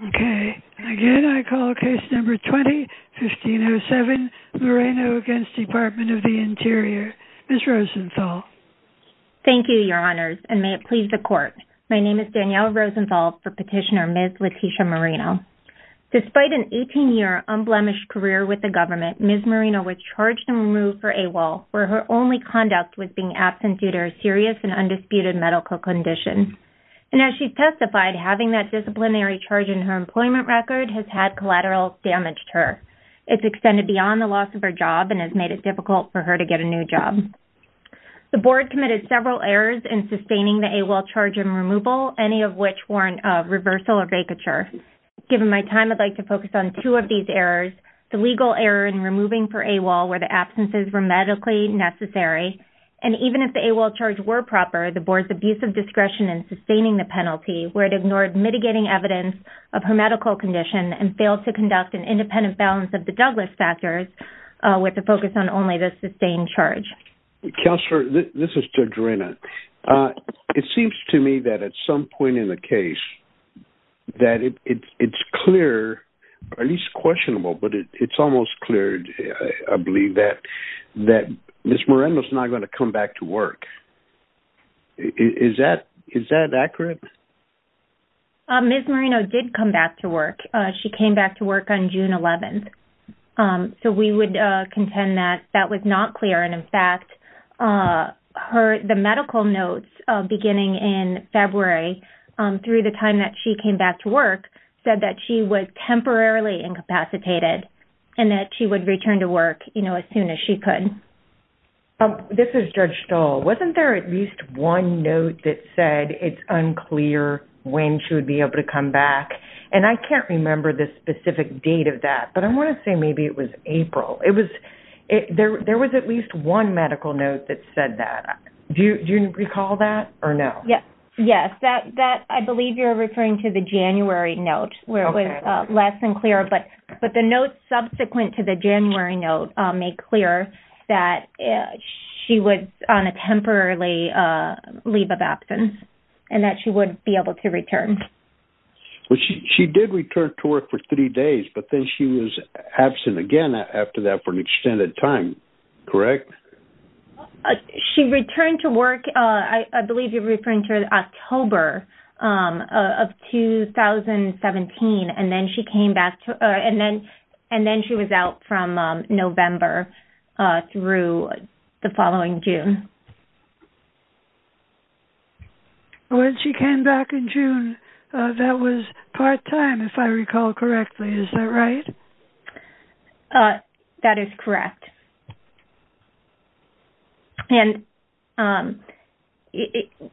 Again, I call Case No. 20-1507, Moreno v. Department of the Interior. Ms. Rosenthal. Thank you, Your Honors, and may it please the Court. My name is Danielle Rosenthal for Petitioner Ms. Letitia Moreno. Despite an 18-year unblemished career with the government, Ms. Moreno was charged and removed for AWOL, where her only conduct was being absent due to her serious and undisputed medical condition. And as she's testified, having that disciplinary charge in her employment record has had collateral damage to her. It's extended beyond the loss of her job and has made it difficult for her to get a new job. The Board committed several errors in sustaining the AWOL charge and removal, any of which warrant a reversal or vacature. Given my time, I'd like to focus on two of these errors, the legal error in removing for AWOL where the absences were medically necessary, and even if the AWOL charge were proper, the Board's abuse of discretion in sustaining the penalty, where it ignored mitigating evidence of her medical condition and failed to conduct an independent balance of the Douglas factors, with a focus on only the sustained charge. Counselor, this is Judge Arena. It seems to me that at some point in the case that it's clear, or at least questionable, but it's almost clear, I believe, that Ms. Moreno's not going to come back to work. Is that accurate? Ms. Moreno did come back to work. She came back to work on June 11th. So we would contend that that was not clear, and, in fact, the medical notes beginning in February, through the time that she came back to work, said that she was temporarily incapacitated, and that she would return to work as soon as she could. This is Judge Stoll. Wasn't there at least one note that said it's unclear when she would be able to come back? And I can't remember the specific date of that, but I want to say maybe it was April. There was at least one medical note that said that. Do you recall that or no? Yes. I believe you're referring to the January note where it was less than clear, but the notes subsequent to the January note make clear that she was on a temporary leave of absence and that she would be able to return. She did return to work for three days, but then she was absent again after that for an extended time. Correct? She returned to work, I believe you're referring to October of 2017, and then she was out from November through the following June. When she came back in June, that was part-time, if I recall correctly. Is that right? That is correct. And,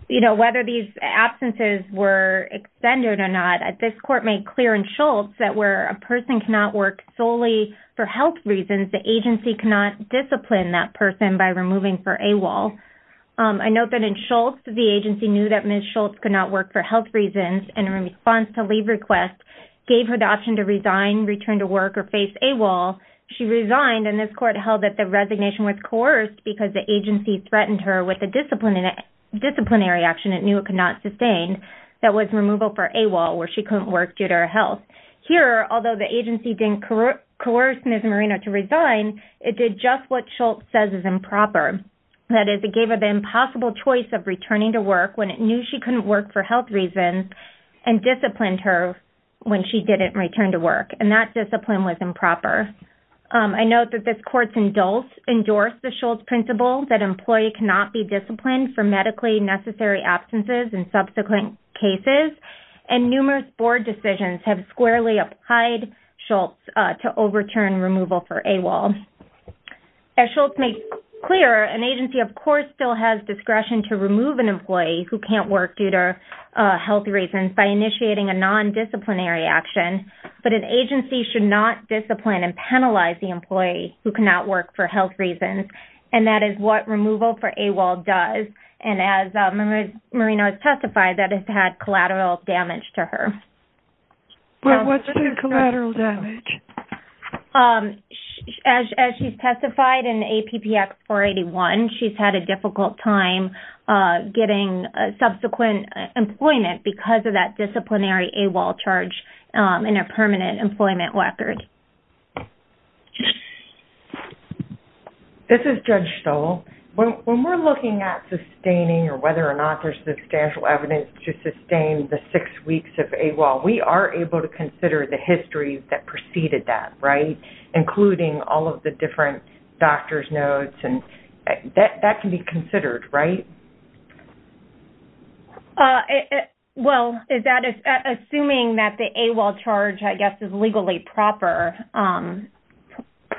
you know, whether these absences were extended or not, this court made clear in Schultz that where a person cannot work solely for health reasons, the agency cannot discipline that person by removing for AWOL. I note that in Schultz the agency knew that Ms. Schultz could not work for health reasons and in response to leave requests gave her the option to resign, return to work, or face AWOL. She resigned, and this court held that the resignation was coerced because the agency threatened her with a disciplinary action it knew it could not sustain that was removal for AWOL where she couldn't work due to her health. Here, although the agency didn't coerce Ms. Moreno to resign, it did just what Schultz says is improper. That is, it gave her the impossible choice of returning to work when it knew she couldn't work for health reasons and disciplined her when she didn't return to work, and that discipline was improper. I note that this court's indulge endorsed the Schultz principle that an employee cannot be disciplined for medically necessary absences in subsequent cases, and numerous board decisions have squarely applied Schultz to overturn removal for AWOL. As Schultz made clear, an agency of course still has discretion to remove an employee who can't work due to health reasons by initiating a nondisciplinary action, but an agency should not discipline and penalize the employee who cannot work for health reasons, and that is what removal for AWOL does, and as Ms. Moreno has testified, that has had collateral damage to her. But what's the collateral damage? As she's testified in APP Act 481, she's had a difficult time getting subsequent employment because of that disciplinary AWOL charge in her permanent employment record. This is Judge Stoll. When we're looking at sustaining or whether or not there's substantial evidence to sustain the six weeks of AWOL, we are able to consider the history that preceded that, right, including all of the different doctor's notes, and that can be considered, right? Well, assuming that the AWOL charge I guess is legally proper,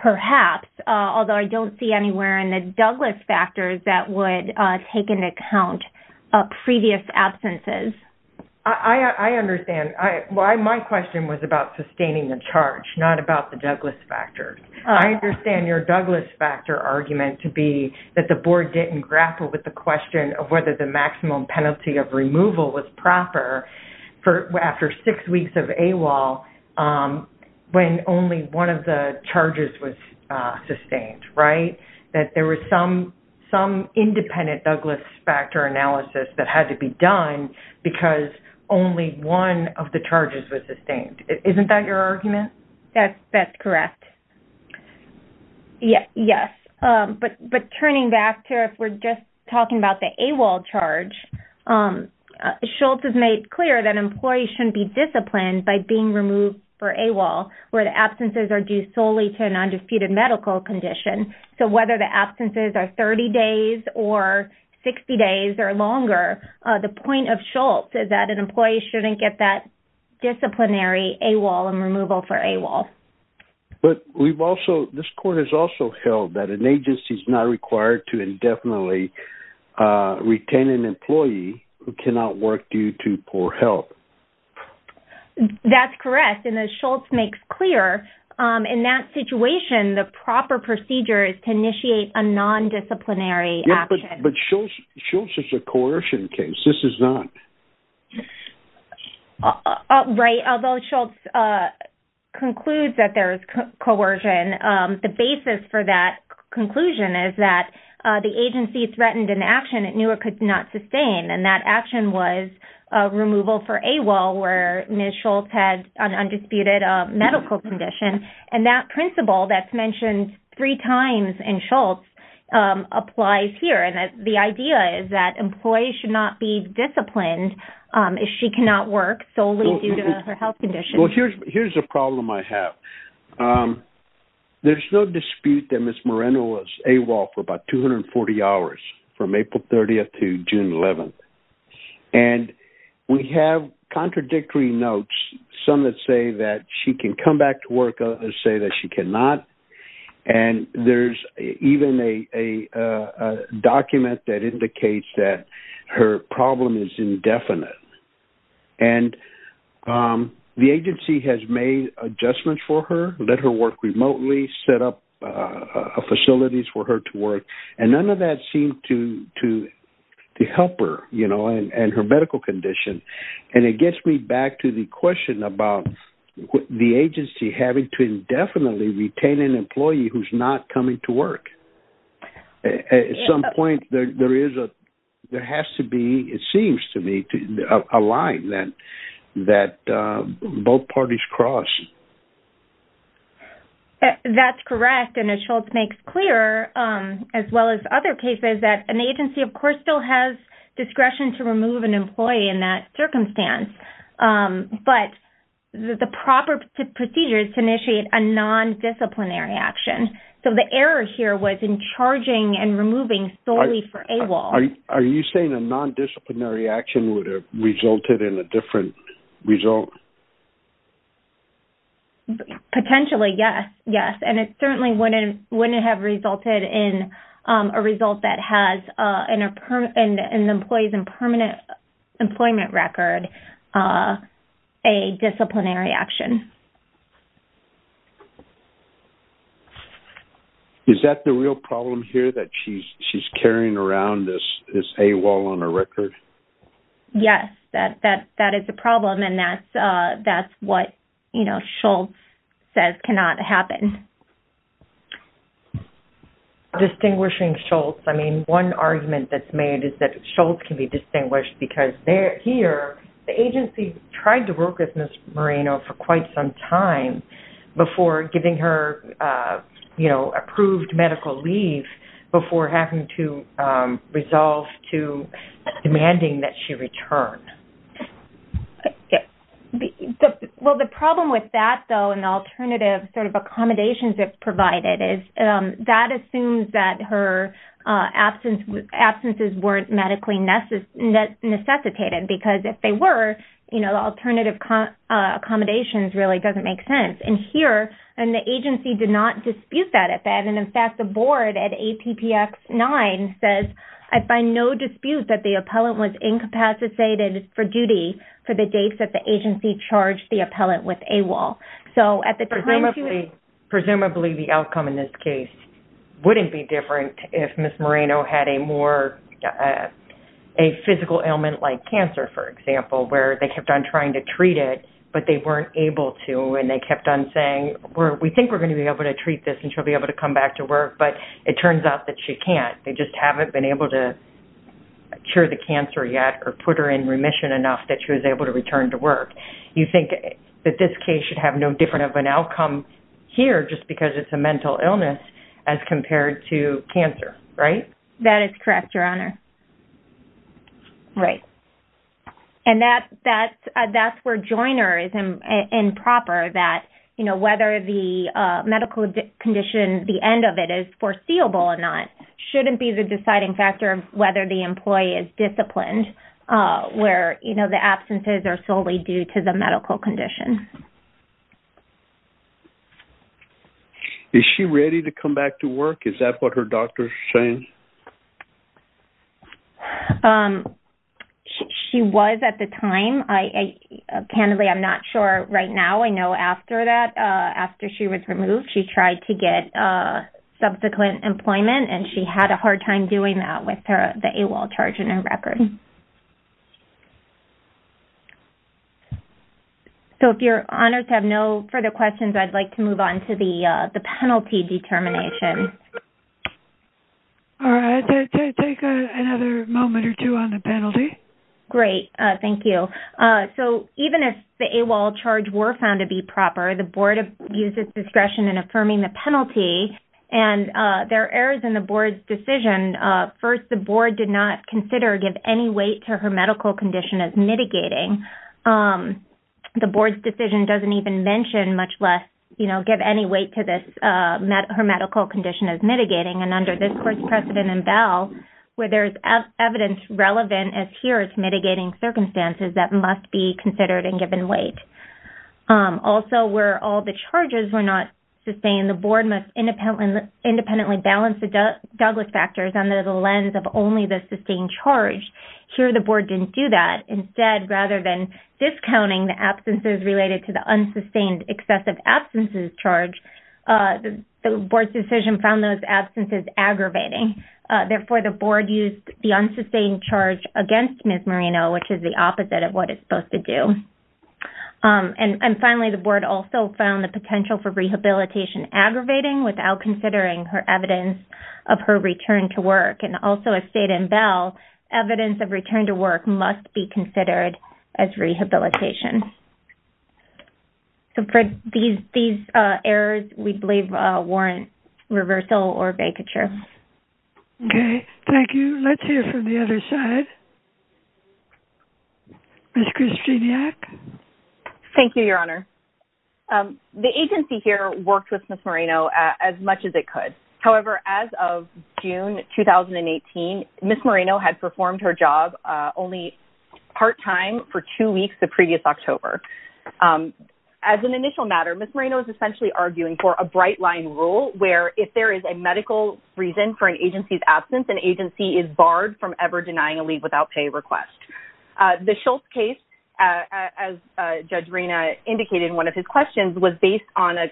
perhaps, although I don't see anywhere in the Douglas factors that would take into account previous absences. I understand. My question was about sustaining the charge, not about the Douglas factors. I understand your Douglas factor argument to be that the board didn't grapple with the question of whether the maximum penalty of removal was proper after six weeks of AWOL when only one of the charges was sustained, right? That there was some independent Douglas factor analysis that had to be done because only one of the charges was sustained. Isn't that your argument? That's correct. Yes. But turning back to if we're just talking about the AWOL charge, Schultz has made clear that employees shouldn't be disciplined by being removed for AWOL where the absences are due solely to a nondisputed medical condition. So whether the absences are 30 days or 60 days or longer, the point of Schultz is that an employee shouldn't get that disciplinary AWOL and removal for AWOL. But this court has also held that an agency is not required to indefinitely retain an employee who cannot work due to poor health. That's correct. And as Schultz makes clear, in that situation, the proper procedure is to initiate a nondisciplinary action. Yes, but Schultz is a coercion case. This is not. Right. Although Schultz concludes that there is coercion, the basis for that conclusion is that the agency threatened an action it knew it could not sustain, and that action was removal for AWOL where Ms. Schultz had an undisputed medical condition. And that principle that's mentioned three times in Schultz applies here. The idea is that employees should not be disciplined if she cannot work solely due to her health condition. Here's a problem I have. There's no dispute that Ms. Moreno was AWOL for about 240 hours from April 30th to June 11th. And we have contradictory notes, some that say that she can come back to work, others say that she cannot. And there's even a document that indicates that her problem is indefinite. And the agency has made adjustments for her, let her work remotely, set up facilities for her to work, and none of that seemed to help her and her medical condition. And it gets me back to the question about the agency having to indefinitely retain an employee who's not coming to work. At some point, there has to be, it seems to me, a line that both parties cross. That's correct, and as Schultz makes clear, as well as other cases, that an agency, of course, still has discretion to remove an employee in that circumstance. But the proper procedure is to initiate a nondisciplinary action. So the error here was in charging and removing solely for AWOL. Are you saying a nondisciplinary action would have resulted in a different result? Potentially, yes. And it certainly wouldn't have resulted in a result that has an employee's permanent employment record a disciplinary action. Is that the real problem here, that she's carrying around this AWOL on her record? Yes, that is the problem, and that's what Schultz says cannot happen. Distinguishing Schultz. I mean, one argument that's made is that Schultz can be distinguished because here, the agency tried to work with Ms. Moreno for quite some time before giving her, you know, approved medical leave before having to resolve to demanding that she return. Well, the problem with that, though, and the alternative sort of accommodations it provided is that assumes that her absences weren't medically necessitated. Because if they were, you know, alternative accommodations really doesn't make sense. And here, the agency did not dispute that. And in fact, the board at APPX-9 says, I find no dispute that the appellant was incapacitated for duty for the dates that the agency charged the appellant with AWOL. Presumably, the outcome in this case wouldn't be different if Ms. Moreno had a more, a physical ailment like cancer, for example, where they kept on trying to treat it, but they weren't able to and they kept on saying, we think we're going to be able to treat this and she'll be able to come back to work, but it turns out that she can't. They just haven't been able to cure the cancer yet or put her in remission enough that she was able to return to work. You think that this case should have no different of an outcome here just because it's a mental illness as compared to cancer, right? That is correct, Your Honor. Right. And that's where Joyner is improper that, you know, whether the medical condition, the end of it is foreseeable or not, shouldn't be the deciding factor of whether the employee is disciplined where, you know, the absences are solely due to the medical condition. Is she ready to come back to work? Is that what her doctor is saying? She was at the time. Apparently, I'm not sure right now. I know after that, after she was removed, she tried to get subsequent employment, and she had a hard time doing that with the AWOL charge in her record. So if you're honored to have no further questions, I'd like to move on to the penalty determination. All right. Take another moment or two on the penalty. Great. Thank you. So even if the AWOL charge were found to be proper, the board used its discretion in affirming the penalty. And there are errors in the board's decision. First, the board did not consider give any weight to her medical condition as mitigating. The board's decision doesn't even mention much less, you know, give any weight to her medical condition as mitigating. And under this court's precedent in Bell, where there is evidence relevant as here to mitigating circumstances, that must be considered and given weight. Also, where all the charges were not sustained, the board must independently balance the Douglas factors under the lens of only the sustained charge. Here the board didn't do that. Instead, rather than discounting the absences related to the unsustained excessive absences charge, the board's decision found those absences aggravating. Therefore, the board used the unsustained charge against Ms. Marino, which is the opposite of what it's supposed to do. And finally, the board also found the potential for rehabilitation aggravating without considering her evidence of her return to work. And also, as stated in Bell, evidence of return to work must be considered as rehabilitation. So for these errors, we believe warrant reversal or vacature. Okay. Thank you. Let's hear from the other side. Ms. Kristeniak? Thank you, Your Honor. The agency here worked with Ms. Marino as much as it could. However, as of June 2018, Ms. Marino had performed her job only part-time for two weeks the previous October. As an initial matter, Ms. Marino is essentially arguing for a bright-line rule from ever denying a leave-without-pay request. The Schultz case, as Judge Reina indicated in one of his questions, was based on a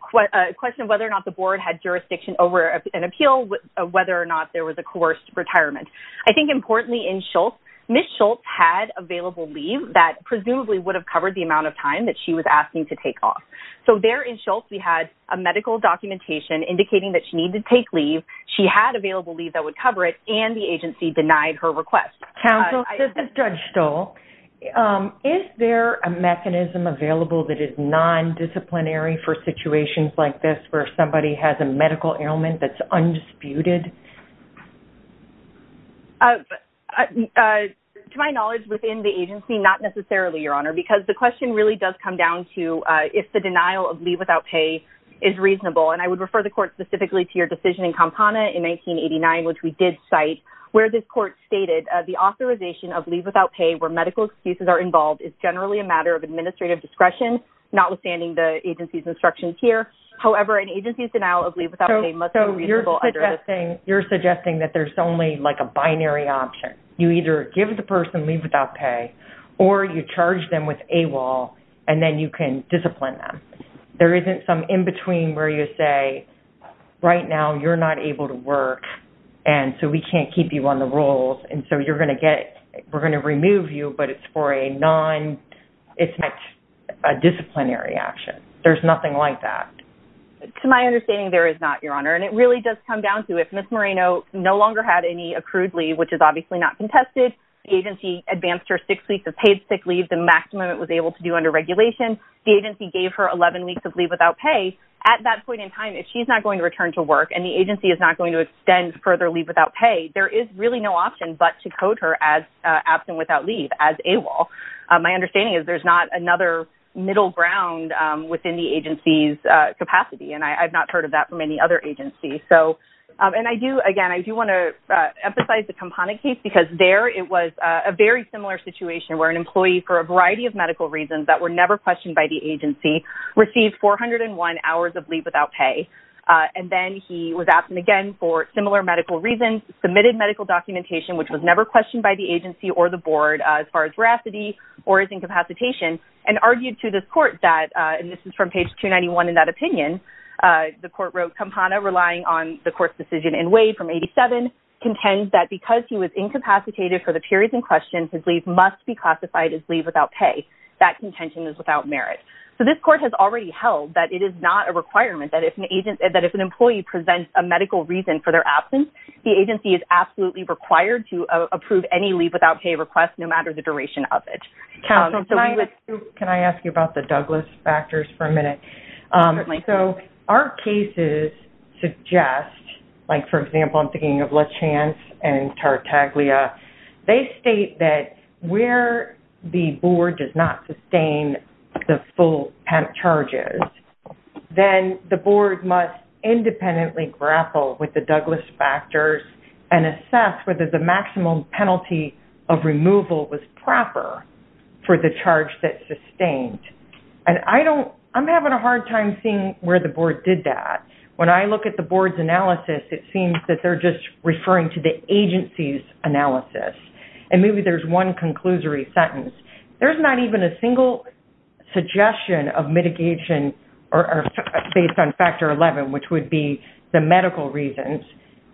question of whether or not the board had jurisdiction over an appeal, whether or not there was a coerced retirement. I think importantly in Schultz, Ms. Schultz had available leave that presumably would have covered the amount of time that she was asking to take off. So there in Schultz, we had a medical documentation indicating that she needed to take leave. She had available leave that would cover it, and the agency denied her request. Counsel, this is Judge Stoll. Is there a mechanism available that is non-disciplinary for situations like this where somebody has a medical ailment that's undisputed? To my knowledge, within the agency, not necessarily, Your Honor, because the question really does come down to if the denial of leave-without-pay is reasonable. And I would refer the court specifically to your decision in Kampana in 1989, which we did cite, where this court stated, the authorization of leave-without-pay where medical excuses are involved is generally a matter of administrative discretion, notwithstanding the agency's instructions here. However, an agency's denial of leave-without-pay must be reasonable under this. So you're suggesting that there's only like a binary option. You either give the person leave-without-pay, or you charge them with AWOL, and then you can discipline them. There isn't some in-between where you say, right now, you're not able to work, and so we can't keep you on the rolls, and so you're going to get – we're going to remove you, but it's for a non – it's not a disciplinary action. There's nothing like that. To my understanding, there is not, Your Honor. And it really does come down to if Ms. Moreno no longer had any accrued leave, which is obviously not contested, the agency advanced her six weeks of paid sick leave, the maximum it was able to do under regulation. The agency gave her 11 weeks of leave-without-pay. At that point in time, if she's not going to return to work and the agency is not going to extend further leave-without-pay, there is really no option but to code her as absent without leave, as AWOL. My understanding is there's not another middle ground within the agency's capacity, and I've not heard of that from any other agency. And I do – again, I do want to emphasize the Kampana case, because there it was a very similar situation where an employee, for a variety of medical reasons that were never questioned by the agency, received 401 hours of leave-without-pay. And then he was absent again for similar medical reasons, submitted medical documentation, which was never questioned by the agency or the board as far as veracity or his incapacitation, and argued to this court that – and this is from page 291 in that opinion – the court wrote, Kampana, relying on the court's decision in Wade from 87, contends that because he was incapacitated for the periods in question, his leave must be classified as leave-without-pay. That contention is without merit. So this court has already held that it is not a requirement that if an agent – that if an employee presents a medical reason for their absence, the agency is absolutely required to approve any leave-without-pay request, no matter the duration of it. Counsel, can I ask you about the Douglas factors for a minute? Certainly. So our cases suggest – like, for example, I'm thinking of LeChance and Tartaglia. They state that where the board does not sustain the full PEMP charges, then the board must independently grapple with the Douglas factors and assess whether the maximum penalty of removal was proper for the charge that's sustained. And I don't – I'm having a hard time seeing where the board did that. When I look at the board's analysis, it seems that they're just referring to the agency's analysis. And maybe there's one conclusory sentence. There's not even a single suggestion of mitigation based on factor 11, which would be the medical reasons.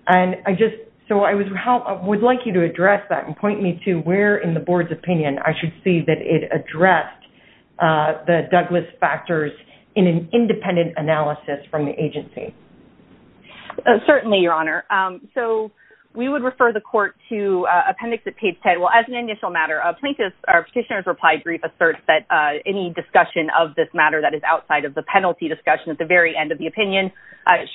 And I just – so I would like you to address that and point me to where in the board's opinion I should see that it addressed the Douglas factors in an independent analysis from the agency. Certainly, Your Honor. So we would refer the court to appendix at page 10. Well, as an initial matter, a plaintiff's or a petitioner's reply brief asserts that any discussion of this matter that is outside of the penalty discussion at the very end of the opinion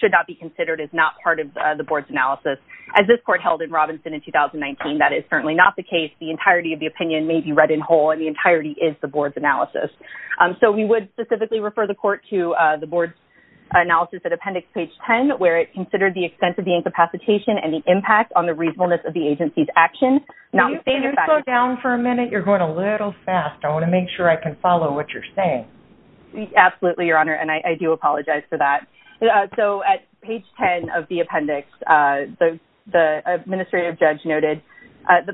should not be considered as not part of the board's analysis. As this court held in Robinson in 2019, that is certainly not the case. The entirety of the opinion may be read in whole, and the entirety is the board's analysis. So we would specifically refer the court to the board's analysis at appendix page 10, where it considered the extent of the incapacitation and the impact on the reasonableness of the agency's action. Can you slow down for a minute? You're going a little fast. I want to make sure I can follow what you're saying. Absolutely, Your Honor, and I do apologize for that. So at page 10 of the appendix, the administrative judge noted,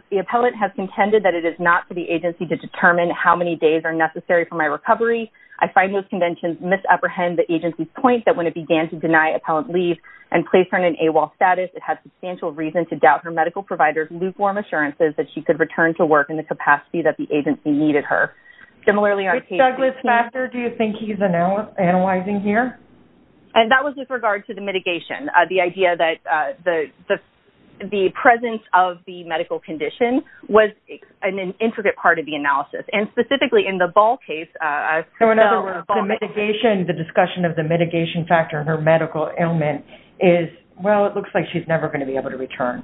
the appellant has contended that it is not for the agency to determine how many days are necessary for my recovery. I find those contentions misapprehend the agency's point that when it began to deny appellant leave and place her in an AWOL status, it had substantial reason to doubt her medical provider's lukewarm assurances that she could return to work in the capacity that the agency needed her. Ms. Douglas-Master, do you think he's analyzing here? That was with regard to the mitigation, the idea that the presence of the medical condition was an intricate part of the analysis, and specifically in the Ball case. So in other words, the mitigation, the discussion of the mitigation factor of her medical ailment is, well, it looks like she's never going to be able to return.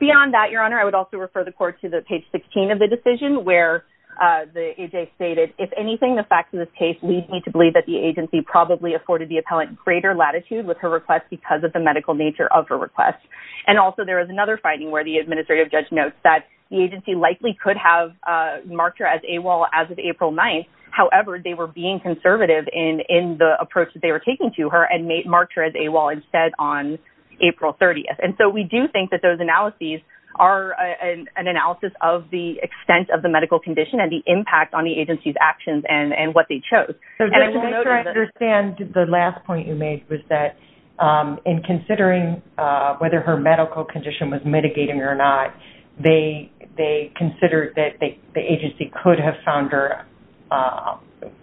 Beyond that, Your Honor, I would also refer the court to page 16 of the decision, where AJ stated, if anything, the facts of this case lead me to believe that the agency probably afforded the appellant greater latitude with her request because of the medical nature of her request. And also there is another finding where the administrative judge notes that the agency likely could have marked her as AWOL as of April 9th. However, they were being conservative in the approach that they were taking to her and marked her as AWOL instead on April 30th. And so we do think that those analyses are an analysis of the extent of the medical condition and the impact on the agency's actions and what they chose. So just to make sure I understand, the last point you made was that in considering whether her medical condition was mitigating or not, they considered that the agency could have found her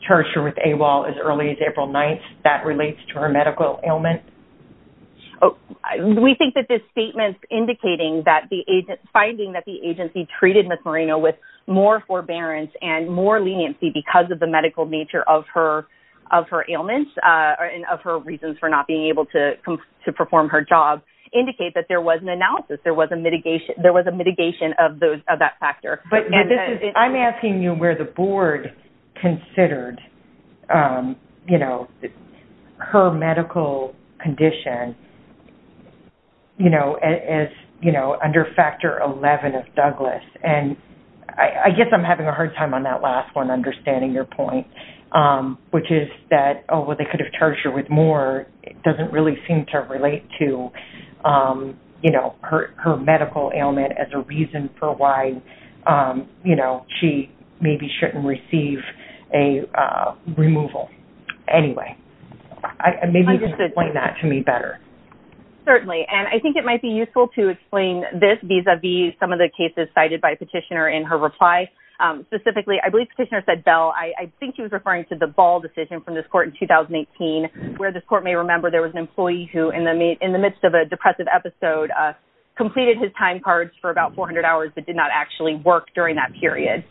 tertiary with AWOL as early as April 9th. That relates to her medical ailment? We think that this statement's indicating that the agency, finding that the agency treated Ms. Moreno with more forbearance and more leniency because of the medical nature of her ailments and of her reasons for not being able to perform her job, indicate that there was an analysis. There was a mitigation of that factor. I'm asking you where the board considered, you know, her medical condition, you know, under Factor 11 of Douglas. And I guess I'm having a hard time on that last one, understanding your point, which is that, oh, well, they could have charged her with more. It doesn't really seem to relate to, you know, her medical ailment as a reason for why, you know, she maybe shouldn't receive a removal. Anyway, maybe you can explain that to me better. Certainly. And I think it might be useful to explain this vis-a-vis some of the cases cited by Petitioner in her reply. Specifically, I believe Petitioner said, Belle, I think he was referring to the Ball decision from this court in 2018, where this court may remember there was an employee who, in the midst of a depressive episode, completed his time cards for about 400 hours but did not actually work during that period.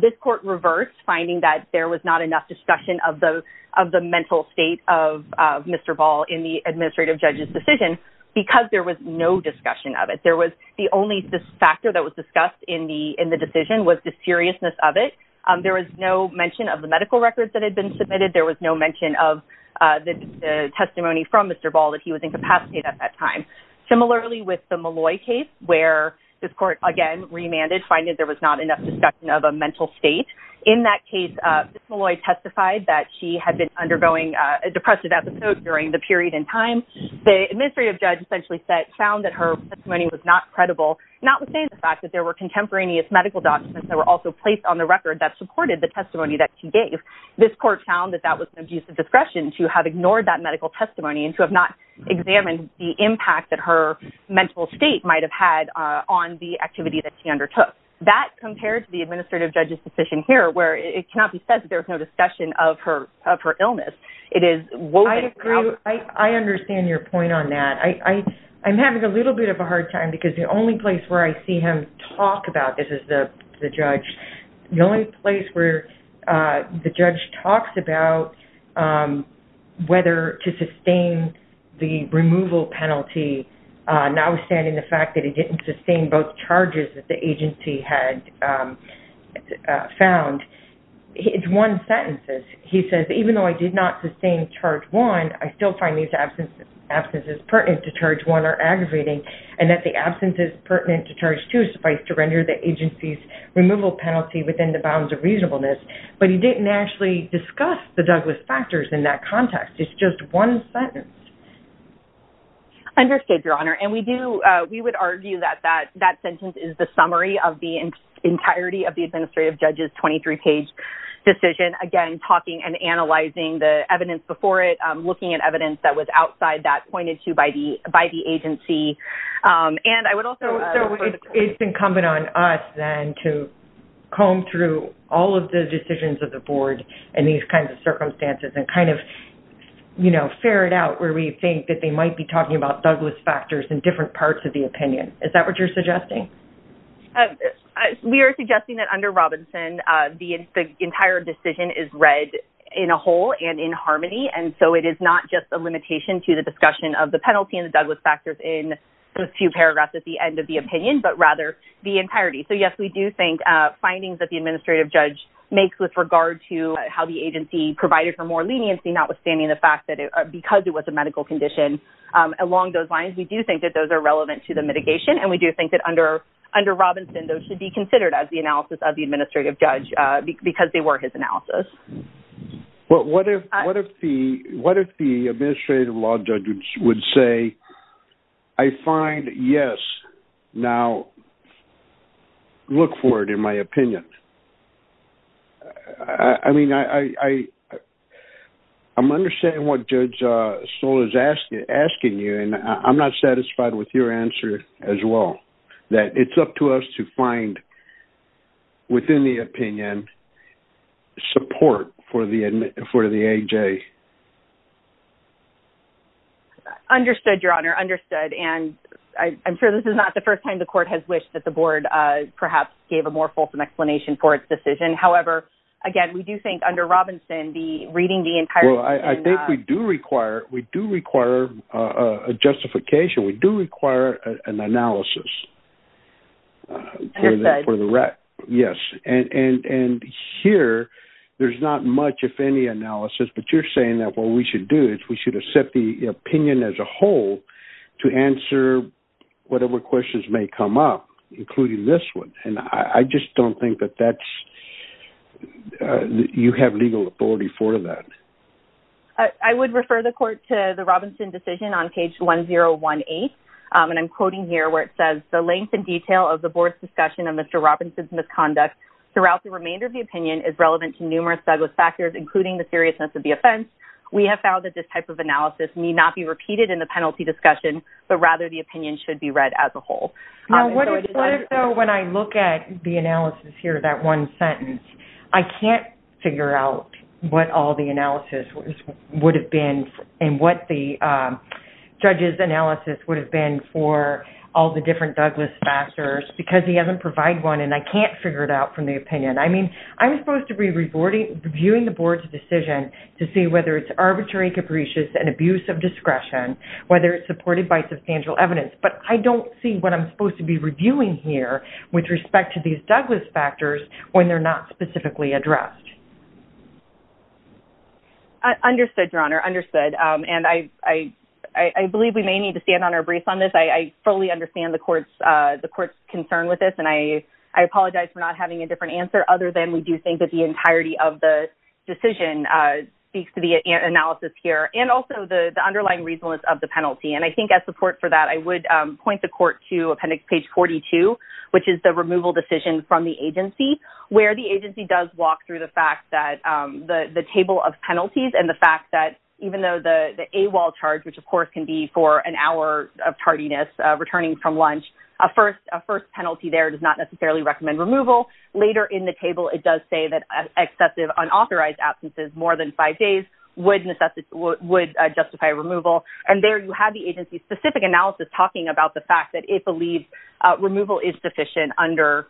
This court reversed, finding that there was not enough discussion of the mental state of Mr. Ball during that period of judge's decision because there was no discussion of it. There was the only factor that was discussed in the decision was the seriousness of it. There was no mention of the medical records that had been submitted. There was no mention of the testimony from Mr. Ball that he was incapacitated at that time. Similarly with the Malloy case, where this court, again, remanded, finding that there was not enough discussion of a mental state. In that case, Ms. Malloy testified that she had been undergoing a depressive episode during the period in time. The administrative judge essentially found that her testimony was not credible, notwithstanding the fact that there were contemporaneous medical documents that were also placed on the record that supported the testimony that she gave. This court found that that was an abuse of discretion to have ignored that medical testimony and to have not examined the impact that her mental state might have had on the activity that she undertook. That compared to the administrative judge's decision here, where it cannot be said that there was no discussion of her illness. I agree. I understand your point on that. I'm having a little bit of a hard time, because the only place where I see him talk about this is the judge. The only place where the judge talks about whether to sustain the removal penalty, notwithstanding the fact that he didn't sustain both charges that the agency had found, it's one sentence. He says, even though I did not sustain charge one, I still find these absences pertinent to charge one are aggravating, and that the absences pertinent to charge two suffice to render the agency's removal penalty within the bounds of reasonableness. But he didn't actually discuss the Douglas factors in that context. It's just one sentence. I understand, Your Honor. And we would argue that that sentence is the summary of the entirety of the administrative judge's 23-page decision. And I would also, I think it's incumbent on us then to comb through all of the decisions of the board and these kinds of circumstances and kind of, you know, ferret out where we think that they might be talking about Douglas factors in different parts of the opinion. Is that what you're suggesting? it's incumbent on us then to comb through all of the decisions of the board and these kinds of circumstances and kind of, And I would also argue that the observation is read in a whole and in harmony. And so it is not just a limitation to the discussion of the penalty and Douglas factors in the few paragraphs at the end of the opinion, but rather the entirety. So yes, we do think findings of the administrative judge makes with regard to how the agency provided for more leniency, not withstanding the fact that it, because it was a medical condition along those lines, we do think that those are relevant to the mitigation. And we do think that under, under Robinson, those should be considered as the analysis of the administrative judge because they were his analysis. Well, what if, what if the, what if the administrative law judges would say, I find yes. Now look for it. In my opinion, I mean, I, I, I'm understanding what judge soul is asking, asking you. And I'm not satisfied with your answer as well, that it's up to us to find. Within the opinion support for the, for the AJ. Understood your honor understood. And I'm sure this is not the first time the court has wished that the board perhaps gave a more fulsome explanation for its decision. However, again, we do think under Robinson, the reading, the entire, I think we do require, we do require a justification. We do require an analysis. For the, for the rat. Yes. And, and, and here there's not much, if any analysis, but you're saying that what we should do is we should have set the opinion as a whole to answer. Whatever questions may come up, including this one. And I just don't think that that's. You have legal authority for that. I would refer the court to the Robinson decision on page one, zero one eight. And I'm quoting here where it says the length and detail of the board's discussion and Mr. Robinson's misconduct throughout the remainder of the opinion is relevant to numerous Douglas factors, including the seriousness of the offense. We have found that this type of analysis may not be repeated in the penalty discussion, but rather the opinion should be read as a whole. When I look at the analysis here, that one sentence, I can't figure out what all the analysis would have been and what the judges analysis would have been for all the different Douglas factors because he hasn't provide one. And I can't figure it out from the opinion. I mean, I'm supposed to be reporting, reviewing the board's decision to see whether it's arbitrary, capricious and abuse of discretion, whether it's supported by substantial evidence, but I don't see what I'm supposed to be reviewing here with respect to these Douglas factors when they're not specifically addressed. Understood your honor understood. And I, I, I believe we may need to stand on our briefs on this. I, I fully understand the court's the court's concern with this. And I, I apologize for not having a different answer other than we do think that the entirety of the decision speaks to the analysis here and also the underlying reasonableness of the penalty. And I think as support for that, I would point the court to appendix page 42, which is the removal decision from the agency where the agency does walk through the fact that the, the table of penalties and the fact that even though the, the AWOL charge, which of course can be for an hour of tardiness, returning from lunch, a first, a first penalty there does not necessarily recommend removal later in the table. It does say that excessive unauthorized absences more than five days would necessitate would justify removal. And there you have the agency specific analysis talking about the fact that it believes removal is sufficient under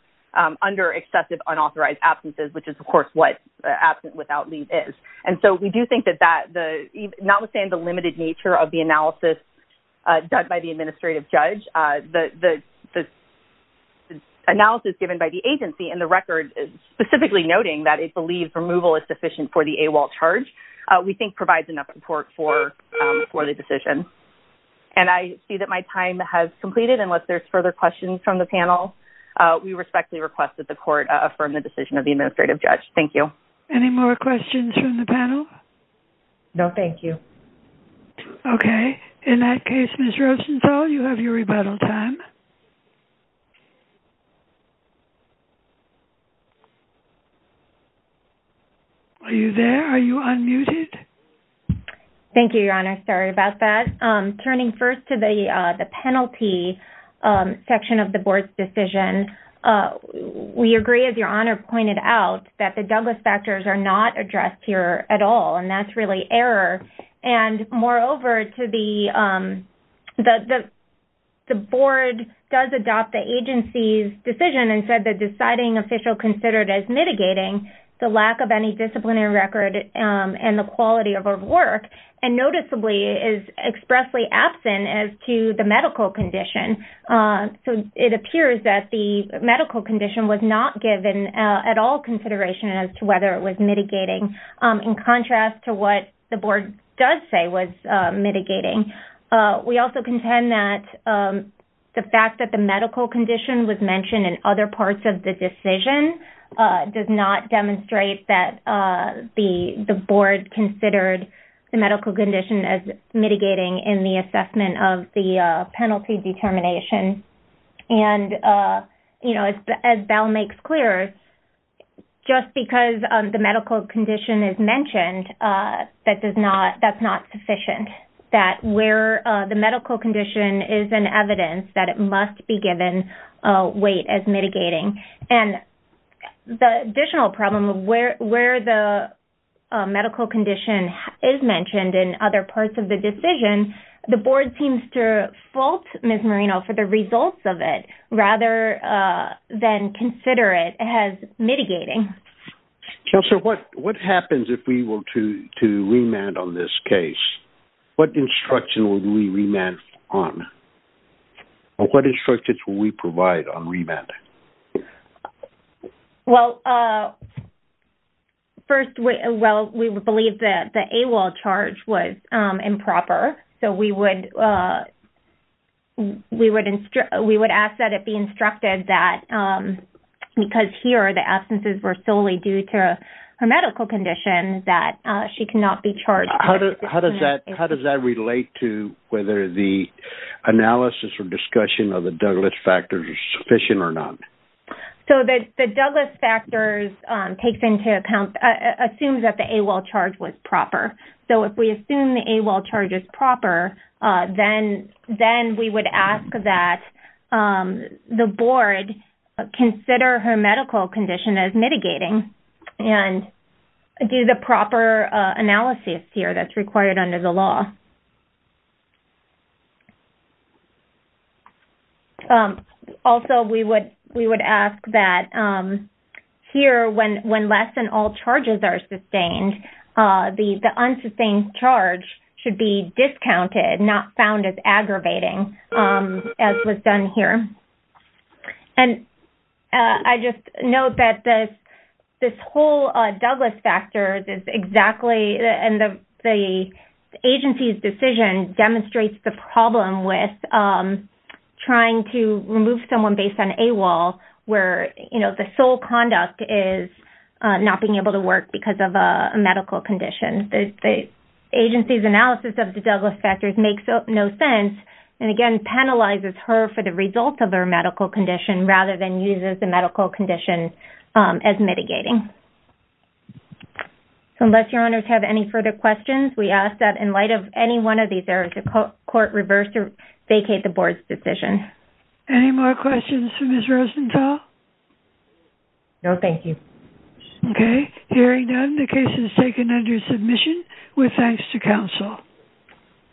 under excessive unauthorized absences, which is of course what absent without leave is. And so we do think that that the, notwithstanding the limited nature of the analysis done by the administrative judge, the, the, the analysis given by the agency and the record is specifically noting that it's believed removal is sufficient for the AWOL charge. We think provides enough support for, for the decision. And I see that my time has completed. Unless there's further questions from the panel, we respectfully requested the court affirm the decision of the administrative judge. Thank you. Any more questions from the panel? No, thank you. Okay. In that case, Ms. Rosenfeld, you have your rebuttal time. Are you there? Are you unmuted? Thank you, Your Honor. Sorry about that. Turning first to the the penalty section of the board's decision. We agree as Your Honor pointed out that the Douglas factors are not addressed here at all. And that's really error. And moreover to the, the, the, the board does adopt the agency's decision and said the deciding official considered as mitigating the lack of any disciplinary record and the quality of our work and noticeably is expressly absent as to the medical condition. So it appears that the medical condition was not given at all consideration as to whether it was mitigating in contrast to what the board does say was mitigating. We also contend that the fact that the medical condition was mentioned in other parts of the decision does not demonstrate that the, the board considered the medical condition as mitigating in the assessment of the penalty determination. And you know, as Bell makes clear, just because the medical condition is mentioned, that does not, that's not sufficient. That where the medical condition is an evidence that it must be given weight as mitigating. And the additional problem of where, where the medical condition is mentioned in other parts of the decision, the board seems to fault Ms. Marino for the results of it rather than consider it as mitigating. So what, what happens if we will to, to remand on this case? What instruction will we remand on? What instructions will we provide on remand? Well, first, well, we would believe that the AWOL charge was improper. So we would, we would instruct, we would ask that it be instructed that, because here the absences were solely due to her medical condition, that she cannot be charged. How does that, how does that relate to whether the analysis or discussion of the medical condition is proper? So the Douglas factors takes into account, assumes that the AWOL charge was proper. So if we assume the AWOL charge is proper, then, then we would ask that the board consider her medical condition as mitigating and do the proper analysis here that's required under the law. We would ask that here when, when less than all charges are sustained the, the unsustained charge should be discounted, not found as aggravating as was done here. And I just know that this, this whole Douglas factors is exactly, and the agency's decision demonstrates the problem with trying to remove someone based on AWOL where, you know, the sole conduct is not being able to work because of a medical condition. The agency's analysis of the Douglas factors makes no sense. And again, penalizes her for the results of their medical condition rather than uses the medical condition as mitigating. So unless your owners have any further questions, we ask that in light of any one of these areas, the court reversed or vacate the board's decision. Any more questions for Ms. Rosenthal? No, thank you. Okay. Hearing none, the case is taken under submission with thanks to council.